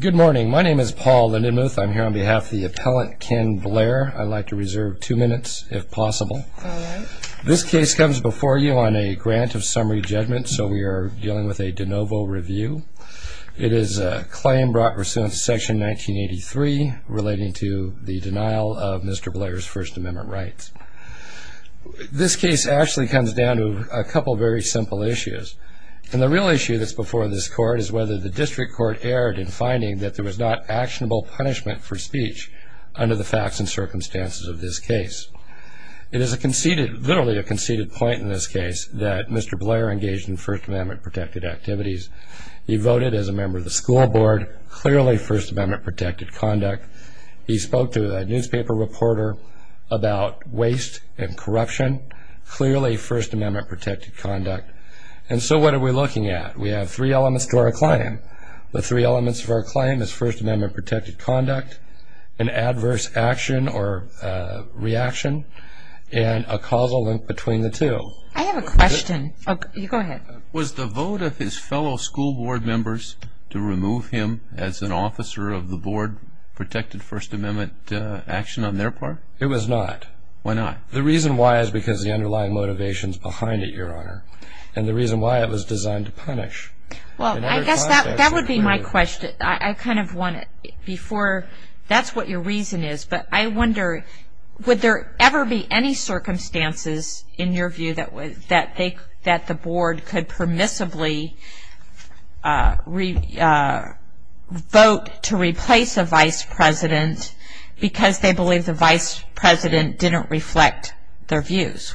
Good morning. My name is Paul Lindenmuth. I'm here on behalf of the appellant Ken Blair. I'd like to reserve two minutes, if possible. This case comes before you on a grant of summary judgment, so we are dealing with a de novo review. It is a claim brought pursuant to Section 1983 relating to the denial of Mr. Blair's First Amendment rights. This case actually comes down to a couple of very simple issues. And the real issue that's before this court is whether the district court erred in finding that there was not actionable punishment for speech under the facts and circumstances of this case. It is a conceded, literally a conceded point in this case, that Mr. Blair engaged in First Amendment protected activities. He voted as a member of the school board, clearly First Amendment protected conduct. He spoke to a newspaper reporter about waste and corruption, clearly First Amendment protected conduct. And so what are we looking at? We have three elements to our claim. The three elements of our claim is First Amendment protected conduct, an adverse action or reaction, and a causal link between the two. I have a question. You go ahead. Was the vote of his fellow school board members to remove him as an officer of the board protected First Amendment action on their part? It was not. Why not? The reason why is because of the underlying motivations behind it, Your Honor. And the reason why, it was designed to punish. Well, I guess that would be my question. I kind of want to, before, that's what your reason is. But I wonder, would there ever be any circumstances, in your view, that the board could permissibly vote to replace a vice president because they believe the vice president didn't reflect their views?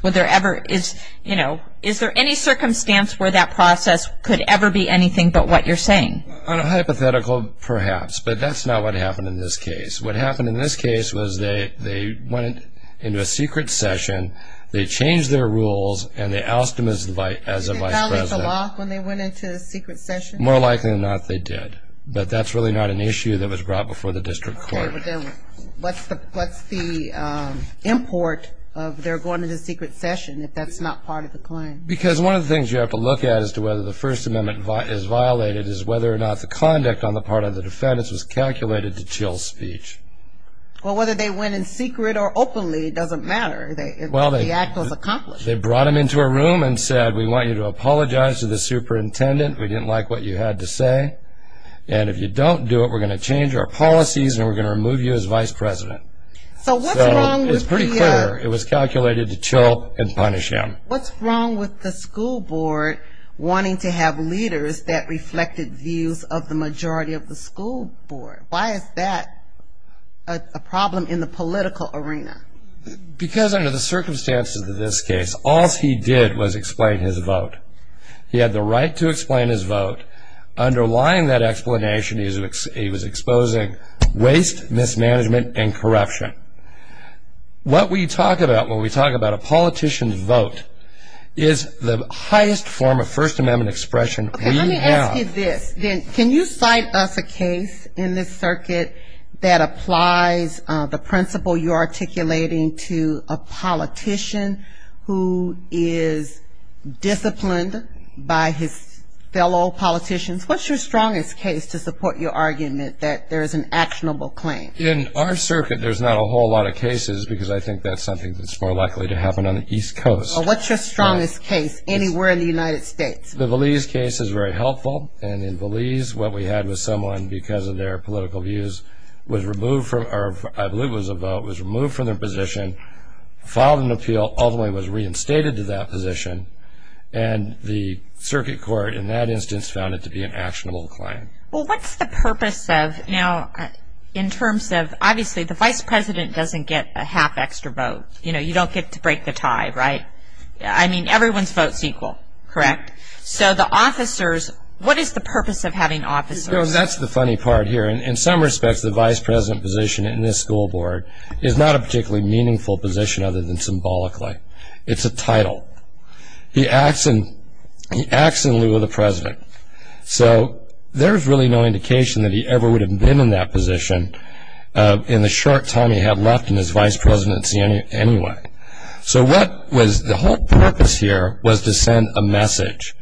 Is there any circumstance where that process could ever be anything but what you're saying? A hypothetical, perhaps, but that's not what happened in this case. What happened in this case was they went into a secret session, they changed their rules, and they oust him as a vice president. Did they violate the law when they went into the secret session? More likely than not, they did. But that's really not an issue that was brought before the district court. Okay, but then what's the import of their going into the secret session if that's not part of the claim? Because one of the things you have to look at as to whether the First Amendment is violated is whether or not the conduct on the part of the defendants was calculated to chill speech. Well, whether they went in secret or openly, it doesn't matter. The act was accomplished. They brought him into a room and said, we want you to apologize to the superintendent. We didn't like what you had to say, and if you don't do it, we're going to change our policies and we're going to remove you as vice president. So what's wrong with the- It was pretty clear it was calculated to chill and punish him. What's wrong with the school board wanting to have leaders that reflected views of the majority of the school board? Why is that a problem in the political arena? Because under the circumstances of this case, all he did was explain his vote. He had the right to explain his vote. Underlying that explanation, he was exposing waste, mismanagement, and corruption. What we talk about when we talk about a politician's vote is the highest form of First Amendment expression we have. Can you cite us a case in this circuit that applies the principle you're articulating to a politician who is disciplined by his fellow politicians? What's your strongest case to support your argument that there is an actionable claim? In our circuit, there's not a whole lot of cases because I think that's something that's more likely to happen on the East Coast. Well, what's your strongest case anywhere in the United States? The Valise case is very helpful. And in Valise, what we had was someone, because of their political views, was removed from- or I believe it was a vote- was removed from their position, filed an appeal, although he was reinstated to that position. And the circuit court, in that instance, found it to be an actionable claim. Well, what's the purpose of- now, in terms of- obviously, the vice president doesn't get a half extra vote. You know, you don't get to break the tie, right? I mean, everyone's vote's equal, correct? So the officers- what is the purpose of having officers? You know, that's the funny part here. In some respects, the vice president position in this school board is not a particularly meaningful position other than symbolically. It's a title. He acts in lieu of the president. So there's really no indication that he ever would have been in that position in the short time he had left in his vice presidency anyway. So what was- the whole purpose here was to send a message.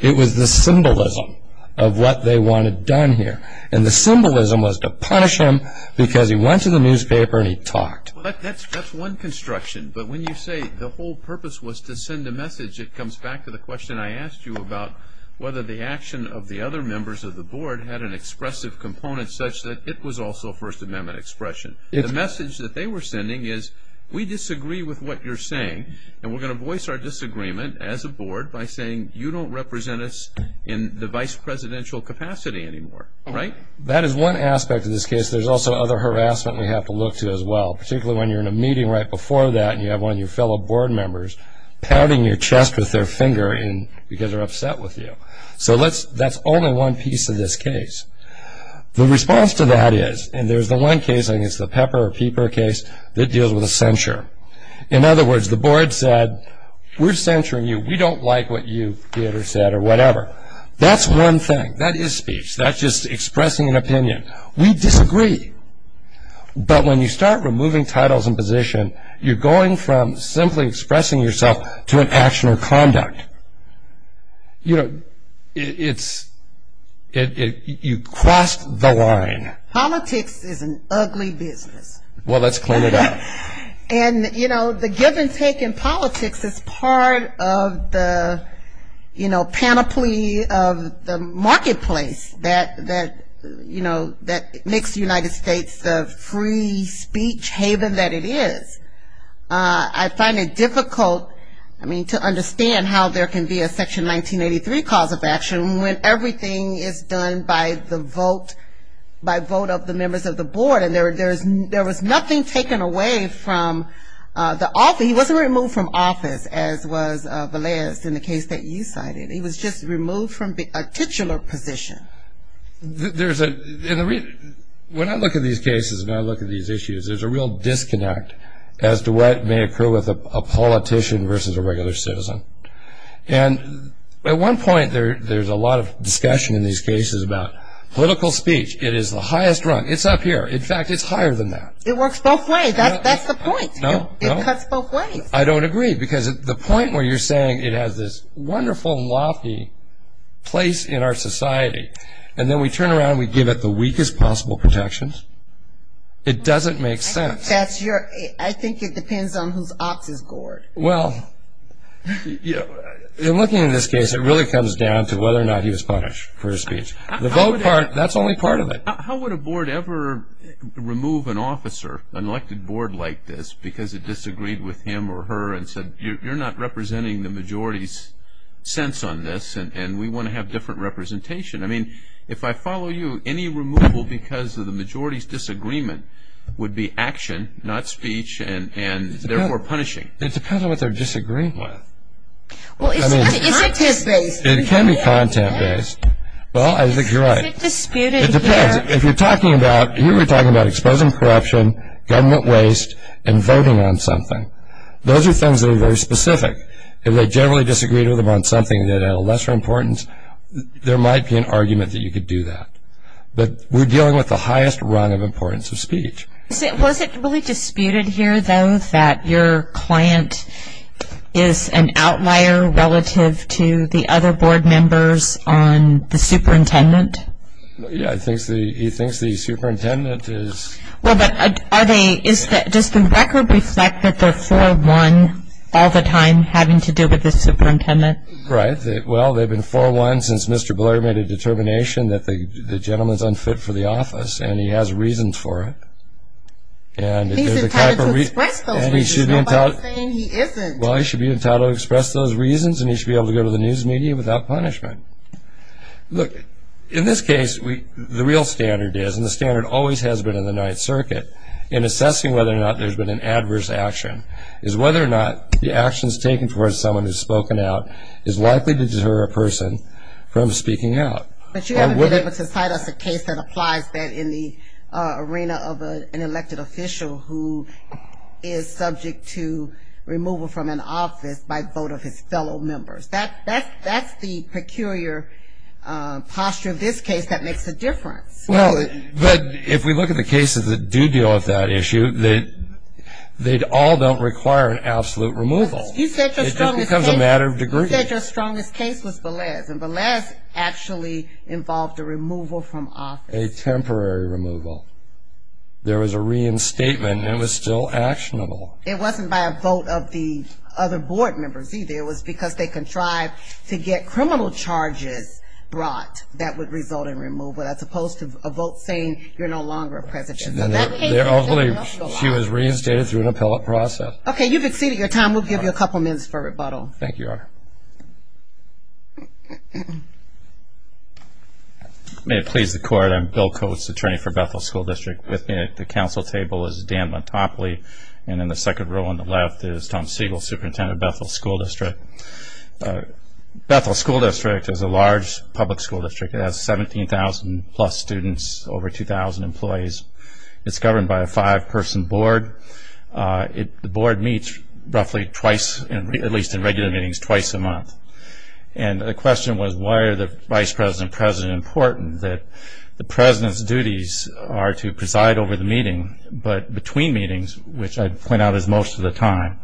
It was the symbolism of what they wanted done here. And the symbolism was to punish him because he went to the newspaper and he talked. That's one construction. But when you say the whole purpose was to send a message, it comes back to the question I asked you about whether the action of the other members of the board had an expressive component such that it was also First Amendment expression. The message that they were sending is, we disagree with what you're saying, and we're going to voice our disagreement as a board by saying, you don't represent us in the vice presidential capacity anymore, right? That is one aspect of this case. There's also other harassment we have to look to as well, particularly when you're in a meeting right before that and you have one of your fellow board members patting your chest with their finger because they're upset with you. So that's only one piece of this case. The response to that is, and there's the one case, I think it's the Pepper or Pieper case, that deals with a censure. In other words, the board said, we're censuring you. We don't like what you did or said or whatever. That's one thing. That is speech. That's just expressing an opinion. We disagree. But when you start removing titles and position, you're going from simply expressing yourself to an action or conduct. You know, it's, you crossed the line. Politics is an ugly business. Well, let's clean it up. And, you know, the give and take in politics is part of the, you know, panoply of the marketplace that, you know, that makes the United States the free speech haven that it is. I find it difficult, I mean, to understand how there can be a Section 1983 cause of action when everything is done by the vote, by vote of the members of the board. And there was nothing taken away from the office. He wasn't removed from office, as was Valez in the case that you cited. He was just removed from a titular position. There's a, when I look at these cases and I look at these issues, there's a real disconnect as to what may occur with a politician versus a regular citizen. And at one point, there's a lot of discussion in these cases about political speech. It is the highest rung. It's up here. In fact, it's higher than that. It works both ways. That's the point. No, no. It cuts both ways. I don't agree. Because the point where you're saying it has this wonderful lofty place in our society, and then we turn around and we give it the weakest possible protections, it doesn't make sense. I think that's your, I think it depends on whose ox is gored. Well, you know, in looking at this case, it really comes down to whether or not he was punished for his speech. The vote part, that's only part of it. How would a board ever remove an officer, an elected board like this, because it disagreed with him or her and said you're not representing the majority's sense on this and we want to have different representation? I mean, if I follow you, any removal because of the majority's disagreement would be action, not speech, and therefore punishing. It depends on what they're disagreeing with. Well, is it content-based? It can be content-based. Well, I think you're right. Is it disputed here? It depends. If you're talking about, here we're talking about exposing corruption, government waste, and voting on something, those are things that are very specific. If they generally disagreed with him on something that had a lesser importance, there might be an argument that you could do that. But we're dealing with the highest run of importance of speech. Was it really disputed here, though, that your client is an outlier relative to the other board members on the superintendent? Yeah, he thinks the superintendent is... Well, but does the record reflect that they're 4-1 all the time having to deal with the superintendent? Right. Well, they've been 4-1 since Mr. Blair made a determination that the gentleman's unfit for the office, and he has reasons for it. He's entitled to express those reasons. Nobody's saying he isn't. Well, he should be entitled to express those reasons, and he should be able to go to the news media without punishment. Right. Look, in this case, the real standard is, and the standard always has been in the Ninth Circuit, in assessing whether or not there's been an adverse action, is whether or not the actions taken towards someone who's spoken out is likely to deter a person from speaking out. But you haven't been able to cite us a case that applies that in the arena of an elected official who is subject to removal from an office by vote of his fellow members. That's the peculiar posture of this case that makes a difference. Well, but if we look at the cases that do deal with that issue, they all don't require an absolute removal. It just becomes a matter of degree. You said your strongest case was Velez, and Velez actually involved a removal from office. A temporary removal. There was a reinstatement, and it was still actionable. It wasn't by a vote of the other board members either. It was because they contrived to get criminal charges brought that would result in removal, as opposed to a vote saying you're no longer a president. She was reinstated through an appellate process. Okay, you've exceeded your time. We'll give you a couple minutes for rebuttal. Thank you, Your Honor. May it please the Court, I'm Bill Coates, attorney for Bethel School District. With me at the council table is Dan Montopoli, and in the second row on the left is Tom Siegel, superintendent of Bethel School District. Bethel School District is a large public school district. It has 17,000 plus students, over 2,000 employees. It's governed by a five-person board. The board meets roughly twice, at least in regular meetings, twice a month. And the question was why are the vice president and president important? The president's duties are to preside over the meeting, but between meetings, which I point out is most of the time,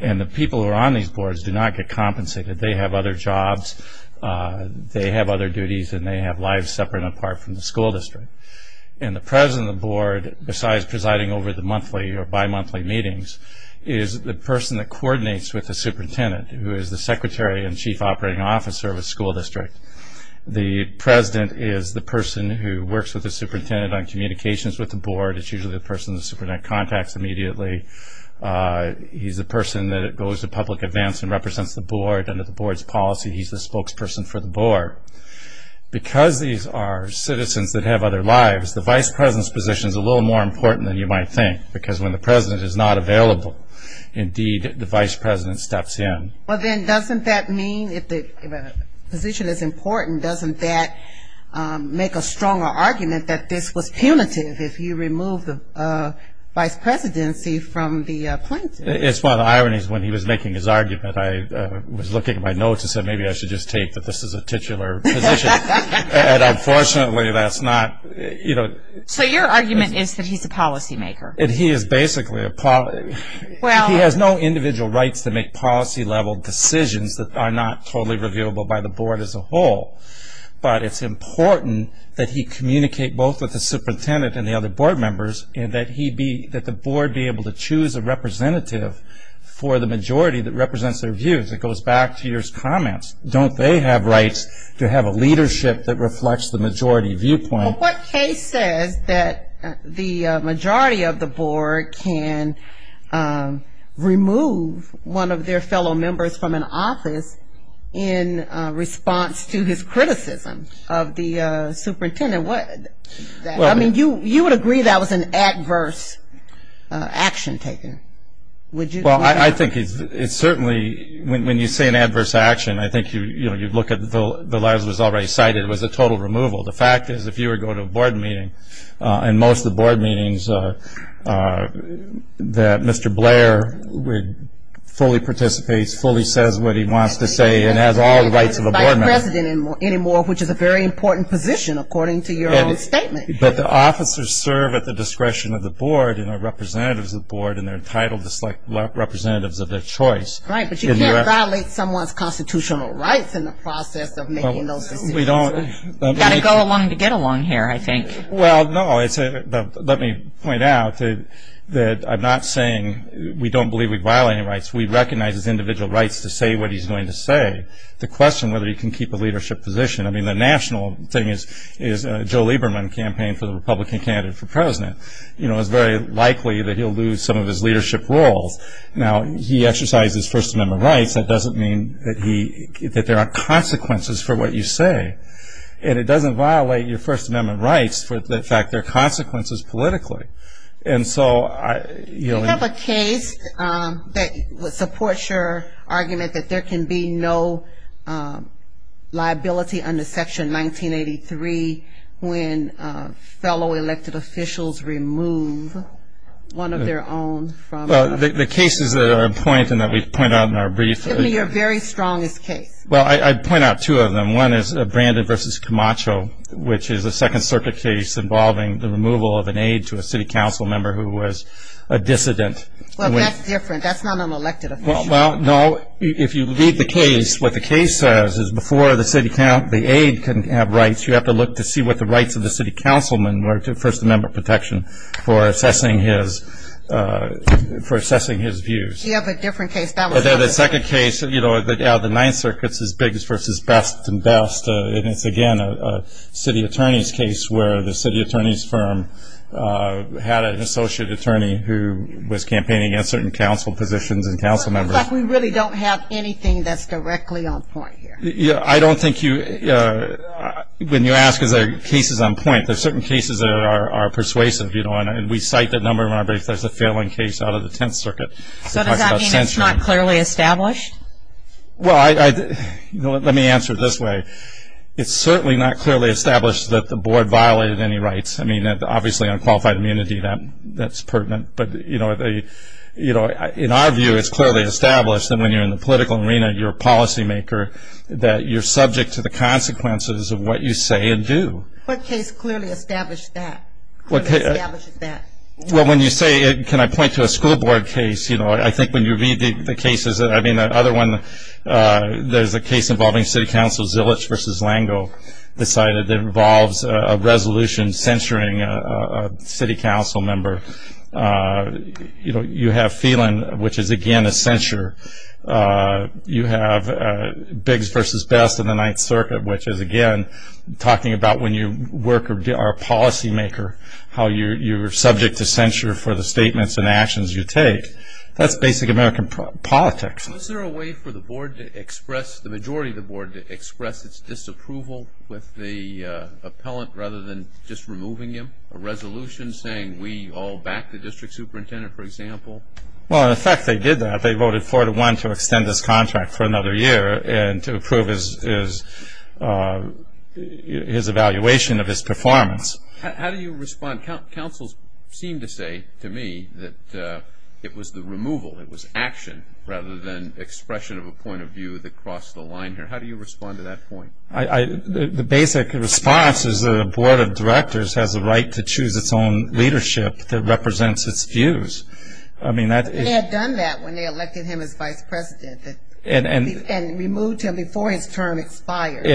and the people who are on these boards do not get compensated. They have other jobs, they have other duties, and they have lives separate and apart from the school district. And the president of the board, besides presiding over the monthly or bimonthly meetings, is the person that coordinates with the superintendent, who is the secretary and chief operating officer of a school district. It's usually the person the superintendent contacts immediately. He's the person that goes to public events and represents the board. Under the board's policy, he's the spokesperson for the board. Because these are citizens that have other lives, the vice president's position is a little more important than you might think, because when the president is not available, indeed, the vice president steps in. Well, then doesn't that mean if the position is important, doesn't that make a stronger argument that this was punitive if you remove the vice presidency from the plaintiff? It's one of the ironies when he was making his argument. I was looking at my notes and said maybe I should just take that this is a titular position. And unfortunately, that's not. So your argument is that he's a policymaker? He is basically a policymaker. He has no individual rights to make policy-level decisions that are not totally reviewable by the board as a whole. But it's important that he communicate both with the superintendent and the other board members and that the board be able to choose a representative for the majority that represents their views. It goes back to your comments. Don't they have rights to have a leadership that reflects the majority viewpoint? Well, what case says that the majority of the board can remove one of their fellow members from an office in response to his criticism of the superintendent? I mean, you would agree that was an adverse action taken, would you? Well, I think it's certainly when you say an adverse action, I think you look at the lies that was already cited, it was a total removal. The fact is if you were going to a board meeting, and most of the board meetings are that Mr. Blair fully participates, fully says what he wants to say and has all the rights of a board member. He's not a president anymore, which is a very important position according to your own statement. But the officers serve at the discretion of the board and are representatives of the board and they're entitled to select representatives of their choice. Right. But you can't violate someone's constitutional rights in the process of making those decisions. We don't. Got to go along to get along here, I think. Well, no. Let me point out that I'm not saying we don't believe we violate any rights. We recognize it's individual rights to say what he's going to say. The question whether he can keep a leadership position, I mean, the national thing is Joe Lieberman campaigned for the Republican candidate for president. You know, it's very likely that he'll lose some of his leadership roles. Now, he exercises First Amendment rights. That doesn't mean that there are consequences for what you say. And it doesn't violate your First Amendment rights for the fact there are consequences politically. Do you have a case that supports your argument that there can be no liability under Section 1983 when fellow elected officials remove one of their own? Well, the cases that are in point and that we point out in our briefs. Give me your very strongest case. Well, I'd point out two of them. One is Brandon v. Camacho, which is a Second Circuit case involving the removal of an aide to a city council member who was a dissident. Well, that's different. That's not an elected official. Well, no. If you read the case, what the case says is before the aide can have rights, you have to look to see what the rights of the city councilman were to First Amendment protection for assessing his views. You have a different case. That one's different. The second case, you know, the Ninth Circuit's as big as versus best and best. And it's, again, a city attorney's case where the city attorney's firm had an associate attorney who was campaigning against certain council positions and council members. It looks like we really don't have anything that's directly on point here. Yeah, I don't think you – when you ask if there are cases on point, there are certain cases that are persuasive, you know, and we cite that number in our briefs. There's a failing case out of the Tenth Circuit. So does that mean it's not clearly established? Well, let me answer it this way. It's certainly not clearly established that the board violated any rights. I mean, obviously, unqualified immunity, that's pertinent. But, you know, in our view, it's clearly established that when you're in the political arena, you're a policymaker, that you're subject to the consequences of what you say and do. What case clearly establishes that? Well, when you say it, can I point to a school board case? You know, I think when you read the cases – I mean, the other one, there's a case involving city council. Zilich v. Langeau decided it involves a resolution censuring a city council member. You know, you have Phelan, which is, again, a censure. You have Biggs v. Best in the Ninth Circuit, which is, again, talking about when you work or are a policymaker, how you're subject to censure for the statements and actions you take. That's basic American politics. Was there a way for the board to express – the majority of the board to express its disapproval with the appellant rather than just removing him? A resolution saying we all back the district superintendent, for example? Well, in effect, they did that. They voted 4-1 to extend his contract for another year and to approve his evaluation of his performance. How do you respond? Councils seem to say to me that it was the removal, it was action, rather than expression of a point of view that crossed the line here. How do you respond to that point? The basic response is that a board of directors has a right to choose its own leadership that represents its views. They had done that when they elected him as vice president and removed him before his term expired.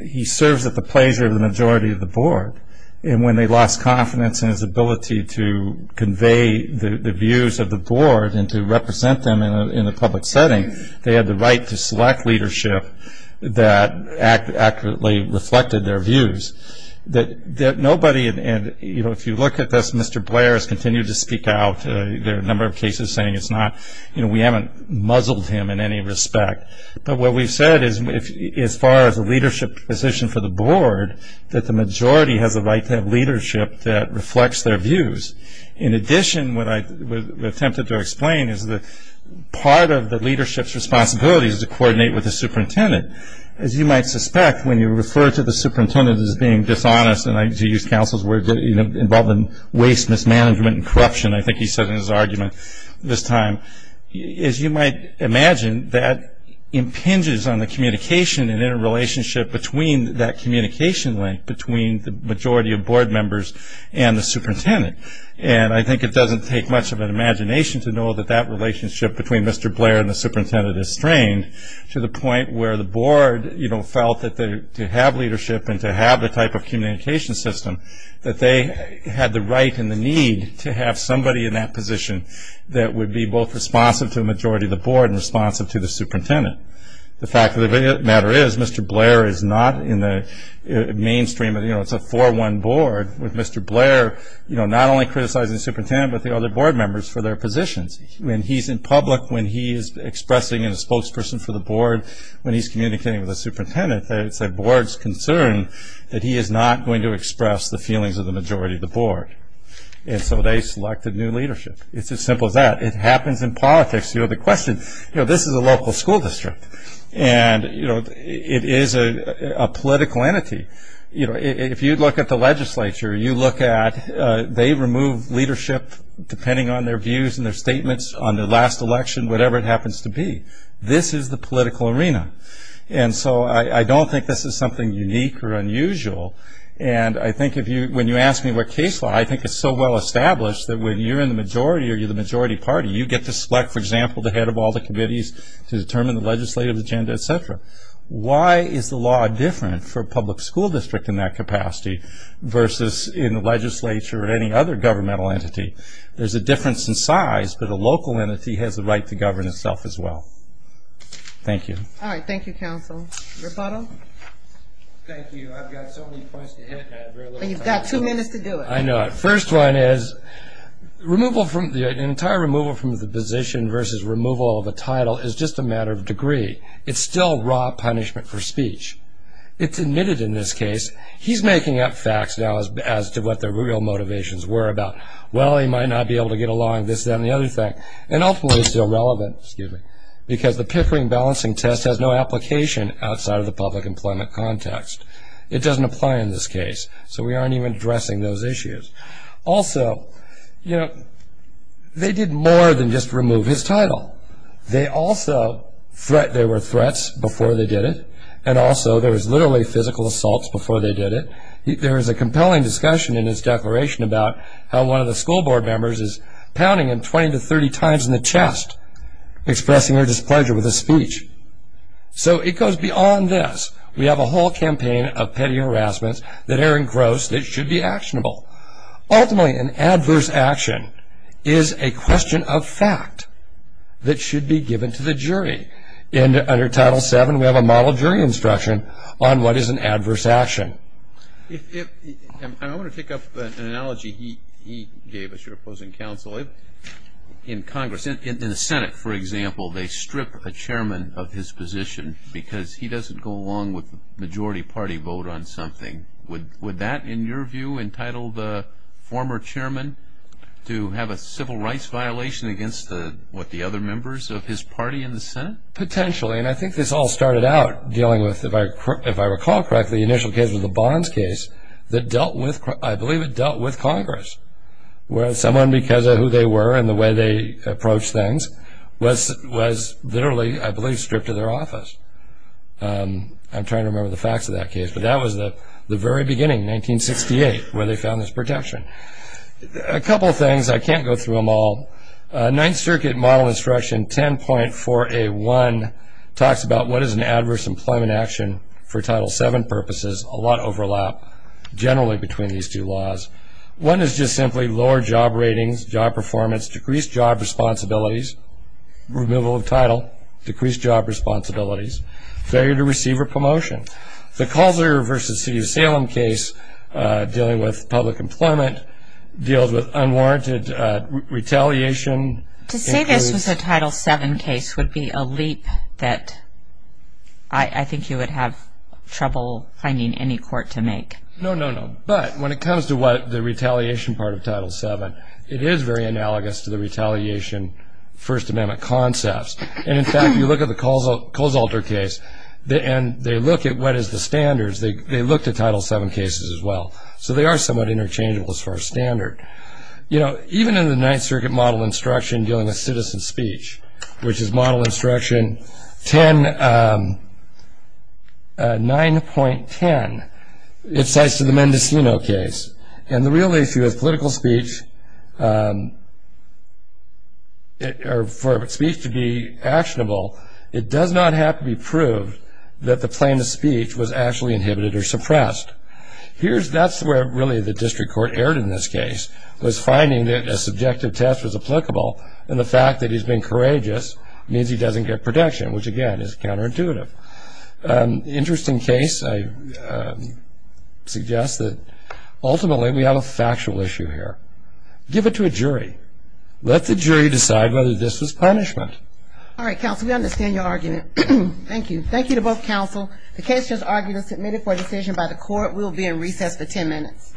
He serves at the pleasure of the majority of the board, and when they lost confidence in his ability to convey the views of the board and to represent them in a public setting, they had the right to select leadership that accurately reflected their views. Nobody – if you look at this, Mr. Blair has continued to speak out. There are a number of cases saying it's not – we haven't muzzled him in any respect. But what we've said is as far as a leadership position for the board, that the majority has a right to have leadership that reflects their views. In addition, what I attempted to explain is that part of the leadership's responsibility is to coordinate with the superintendent. As you might suspect, when you refer to the superintendent as being dishonest, and I use counsel's word, involving waste, mismanagement, and corruption, I think he said in his argument this time, as you might imagine, that impinges on the communication and interrelationship between that communication link between the majority of board members and the superintendent. And I think it doesn't take much of an imagination to know that that relationship between Mr. Blair and the superintendent is strained to the point where the board felt that to have leadership and to have the type of communication system, that they had the right and the need to have somebody in that position that would be both responsive to the majority of the board and responsive to the superintendent. The fact of the matter is, Mr. Blair is not in the mainstream. It's a 4-1 board with Mr. Blair not only criticizing the superintendent but the other board members for their positions. When he's in public, when he's expressing as a spokesperson for the board, when he's communicating with the superintendent, it's the board's concern that he is not going to express the feelings of the majority of the board. And so they selected new leadership. It's as simple as that. It happens in politics. You know, the question, you know, this is a local school district and, you know, it is a political entity. You know, if you look at the legislature, you look at, they remove leadership depending on their views and their statements on their last election, whatever it happens to be. This is the political arena. And so I don't think this is something unique or unusual. And I think when you ask me what case law, I think it's so well established that when you're in the majority or you're the majority party, you get to select, for example, the head of all the committees to determine the legislative agenda, et cetera. Why is the law different for a public school district in that capacity versus in the legislature or any other governmental entity? There's a difference in size, but a local entity has the right to govern itself as well. Thank you. All right, thank you, counsel. Rebuttal? Thank you. I've got so many points to hit. And you've got two minutes to do it. I know. The first one is the entire removal from the position versus removal of a title is just a matter of degree. It's still raw punishment for speech. It's admitted in this case. He's making up facts now as to what the real motivations were about. Well, he might not be able to get along, this, that, and the other thing. And ultimately it's still relevant, excuse me, because the Pickering Balancing Test has no application outside of the public employment context. It doesn't apply in this case. So we aren't even addressing those issues. Also, you know, they did more than just remove his title. There were threats before they did it, and also there was literally physical assaults before they did it. There was a compelling discussion in his declaration about how one of the school So it goes beyond this. We have a whole campaign of petty harassment that Aaron Gross that should be actionable. Ultimately, an adverse action is a question of fact that should be given to the jury. Under Title VII, we have a model jury instruction on what is an adverse action. I want to pick up an analogy he gave as your opposing counsel. In Congress, in the Senate, for example, they strip a chairman of his position because he doesn't go along with the majority party vote on something. Would that, in your view, entitle the former chairman to have a civil rights violation against what, the other members of his party in the Senate? Potentially, and I think this all started out dealing with, if I recall correctly, the initial case of the Bonds case that dealt with, I believe it dealt with Congress, where someone, because of who they were and the way they approached things, was literally, I believe, stripped of their office. I'm trying to remember the facts of that case, but that was the very beginning, 1968, where they found this protection. A couple of things, I can't go through them all. Ninth Circuit Model Instruction 10.4A1 talks about what is an adverse employment action for Title VII purposes. A lot overlap, generally, between these two laws. One is just simply lower job ratings, job performance, decreased job responsibilities, removal of title, decreased job responsibilities, failure to receive a promotion. The Calzer v. City of Salem case, dealing with public employment, deals with unwarranted retaliation. To say this was a Title VII case would be a leap that I think you would have trouble finding any court to make. No, no, no. But when it comes to the retaliation part of Title VII, it is very analogous to the retaliation First Amendment concepts. And, in fact, you look at the Coles-Alter case, and they look at what is the standards. They look to Title VII cases as well. So they are somewhat interchangeable as far as standard. Even in the Ninth Circuit Model Instruction dealing with citizen speech, which is Model Instruction 10.9.10, it cites the Mendocino case. And the real issue is political speech, for speech to be actionable, it does not have to be proved that the plaintiff's speech was actually inhibited or suppressed. That's where, really, the district court erred in this case, was finding that a subjective test was applicable, and the fact that he's been courageous means he doesn't get protection, which, again, is counterintuitive. Interesting case. I suggest that, ultimately, we have a factual issue here. Give it to a jury. Let the jury decide whether this was punishment. All right, counsel, we understand your argument. Thank you. Thank you to both counsel. The case has argued and submitted for a decision by the court. We will be in recess for ten minutes.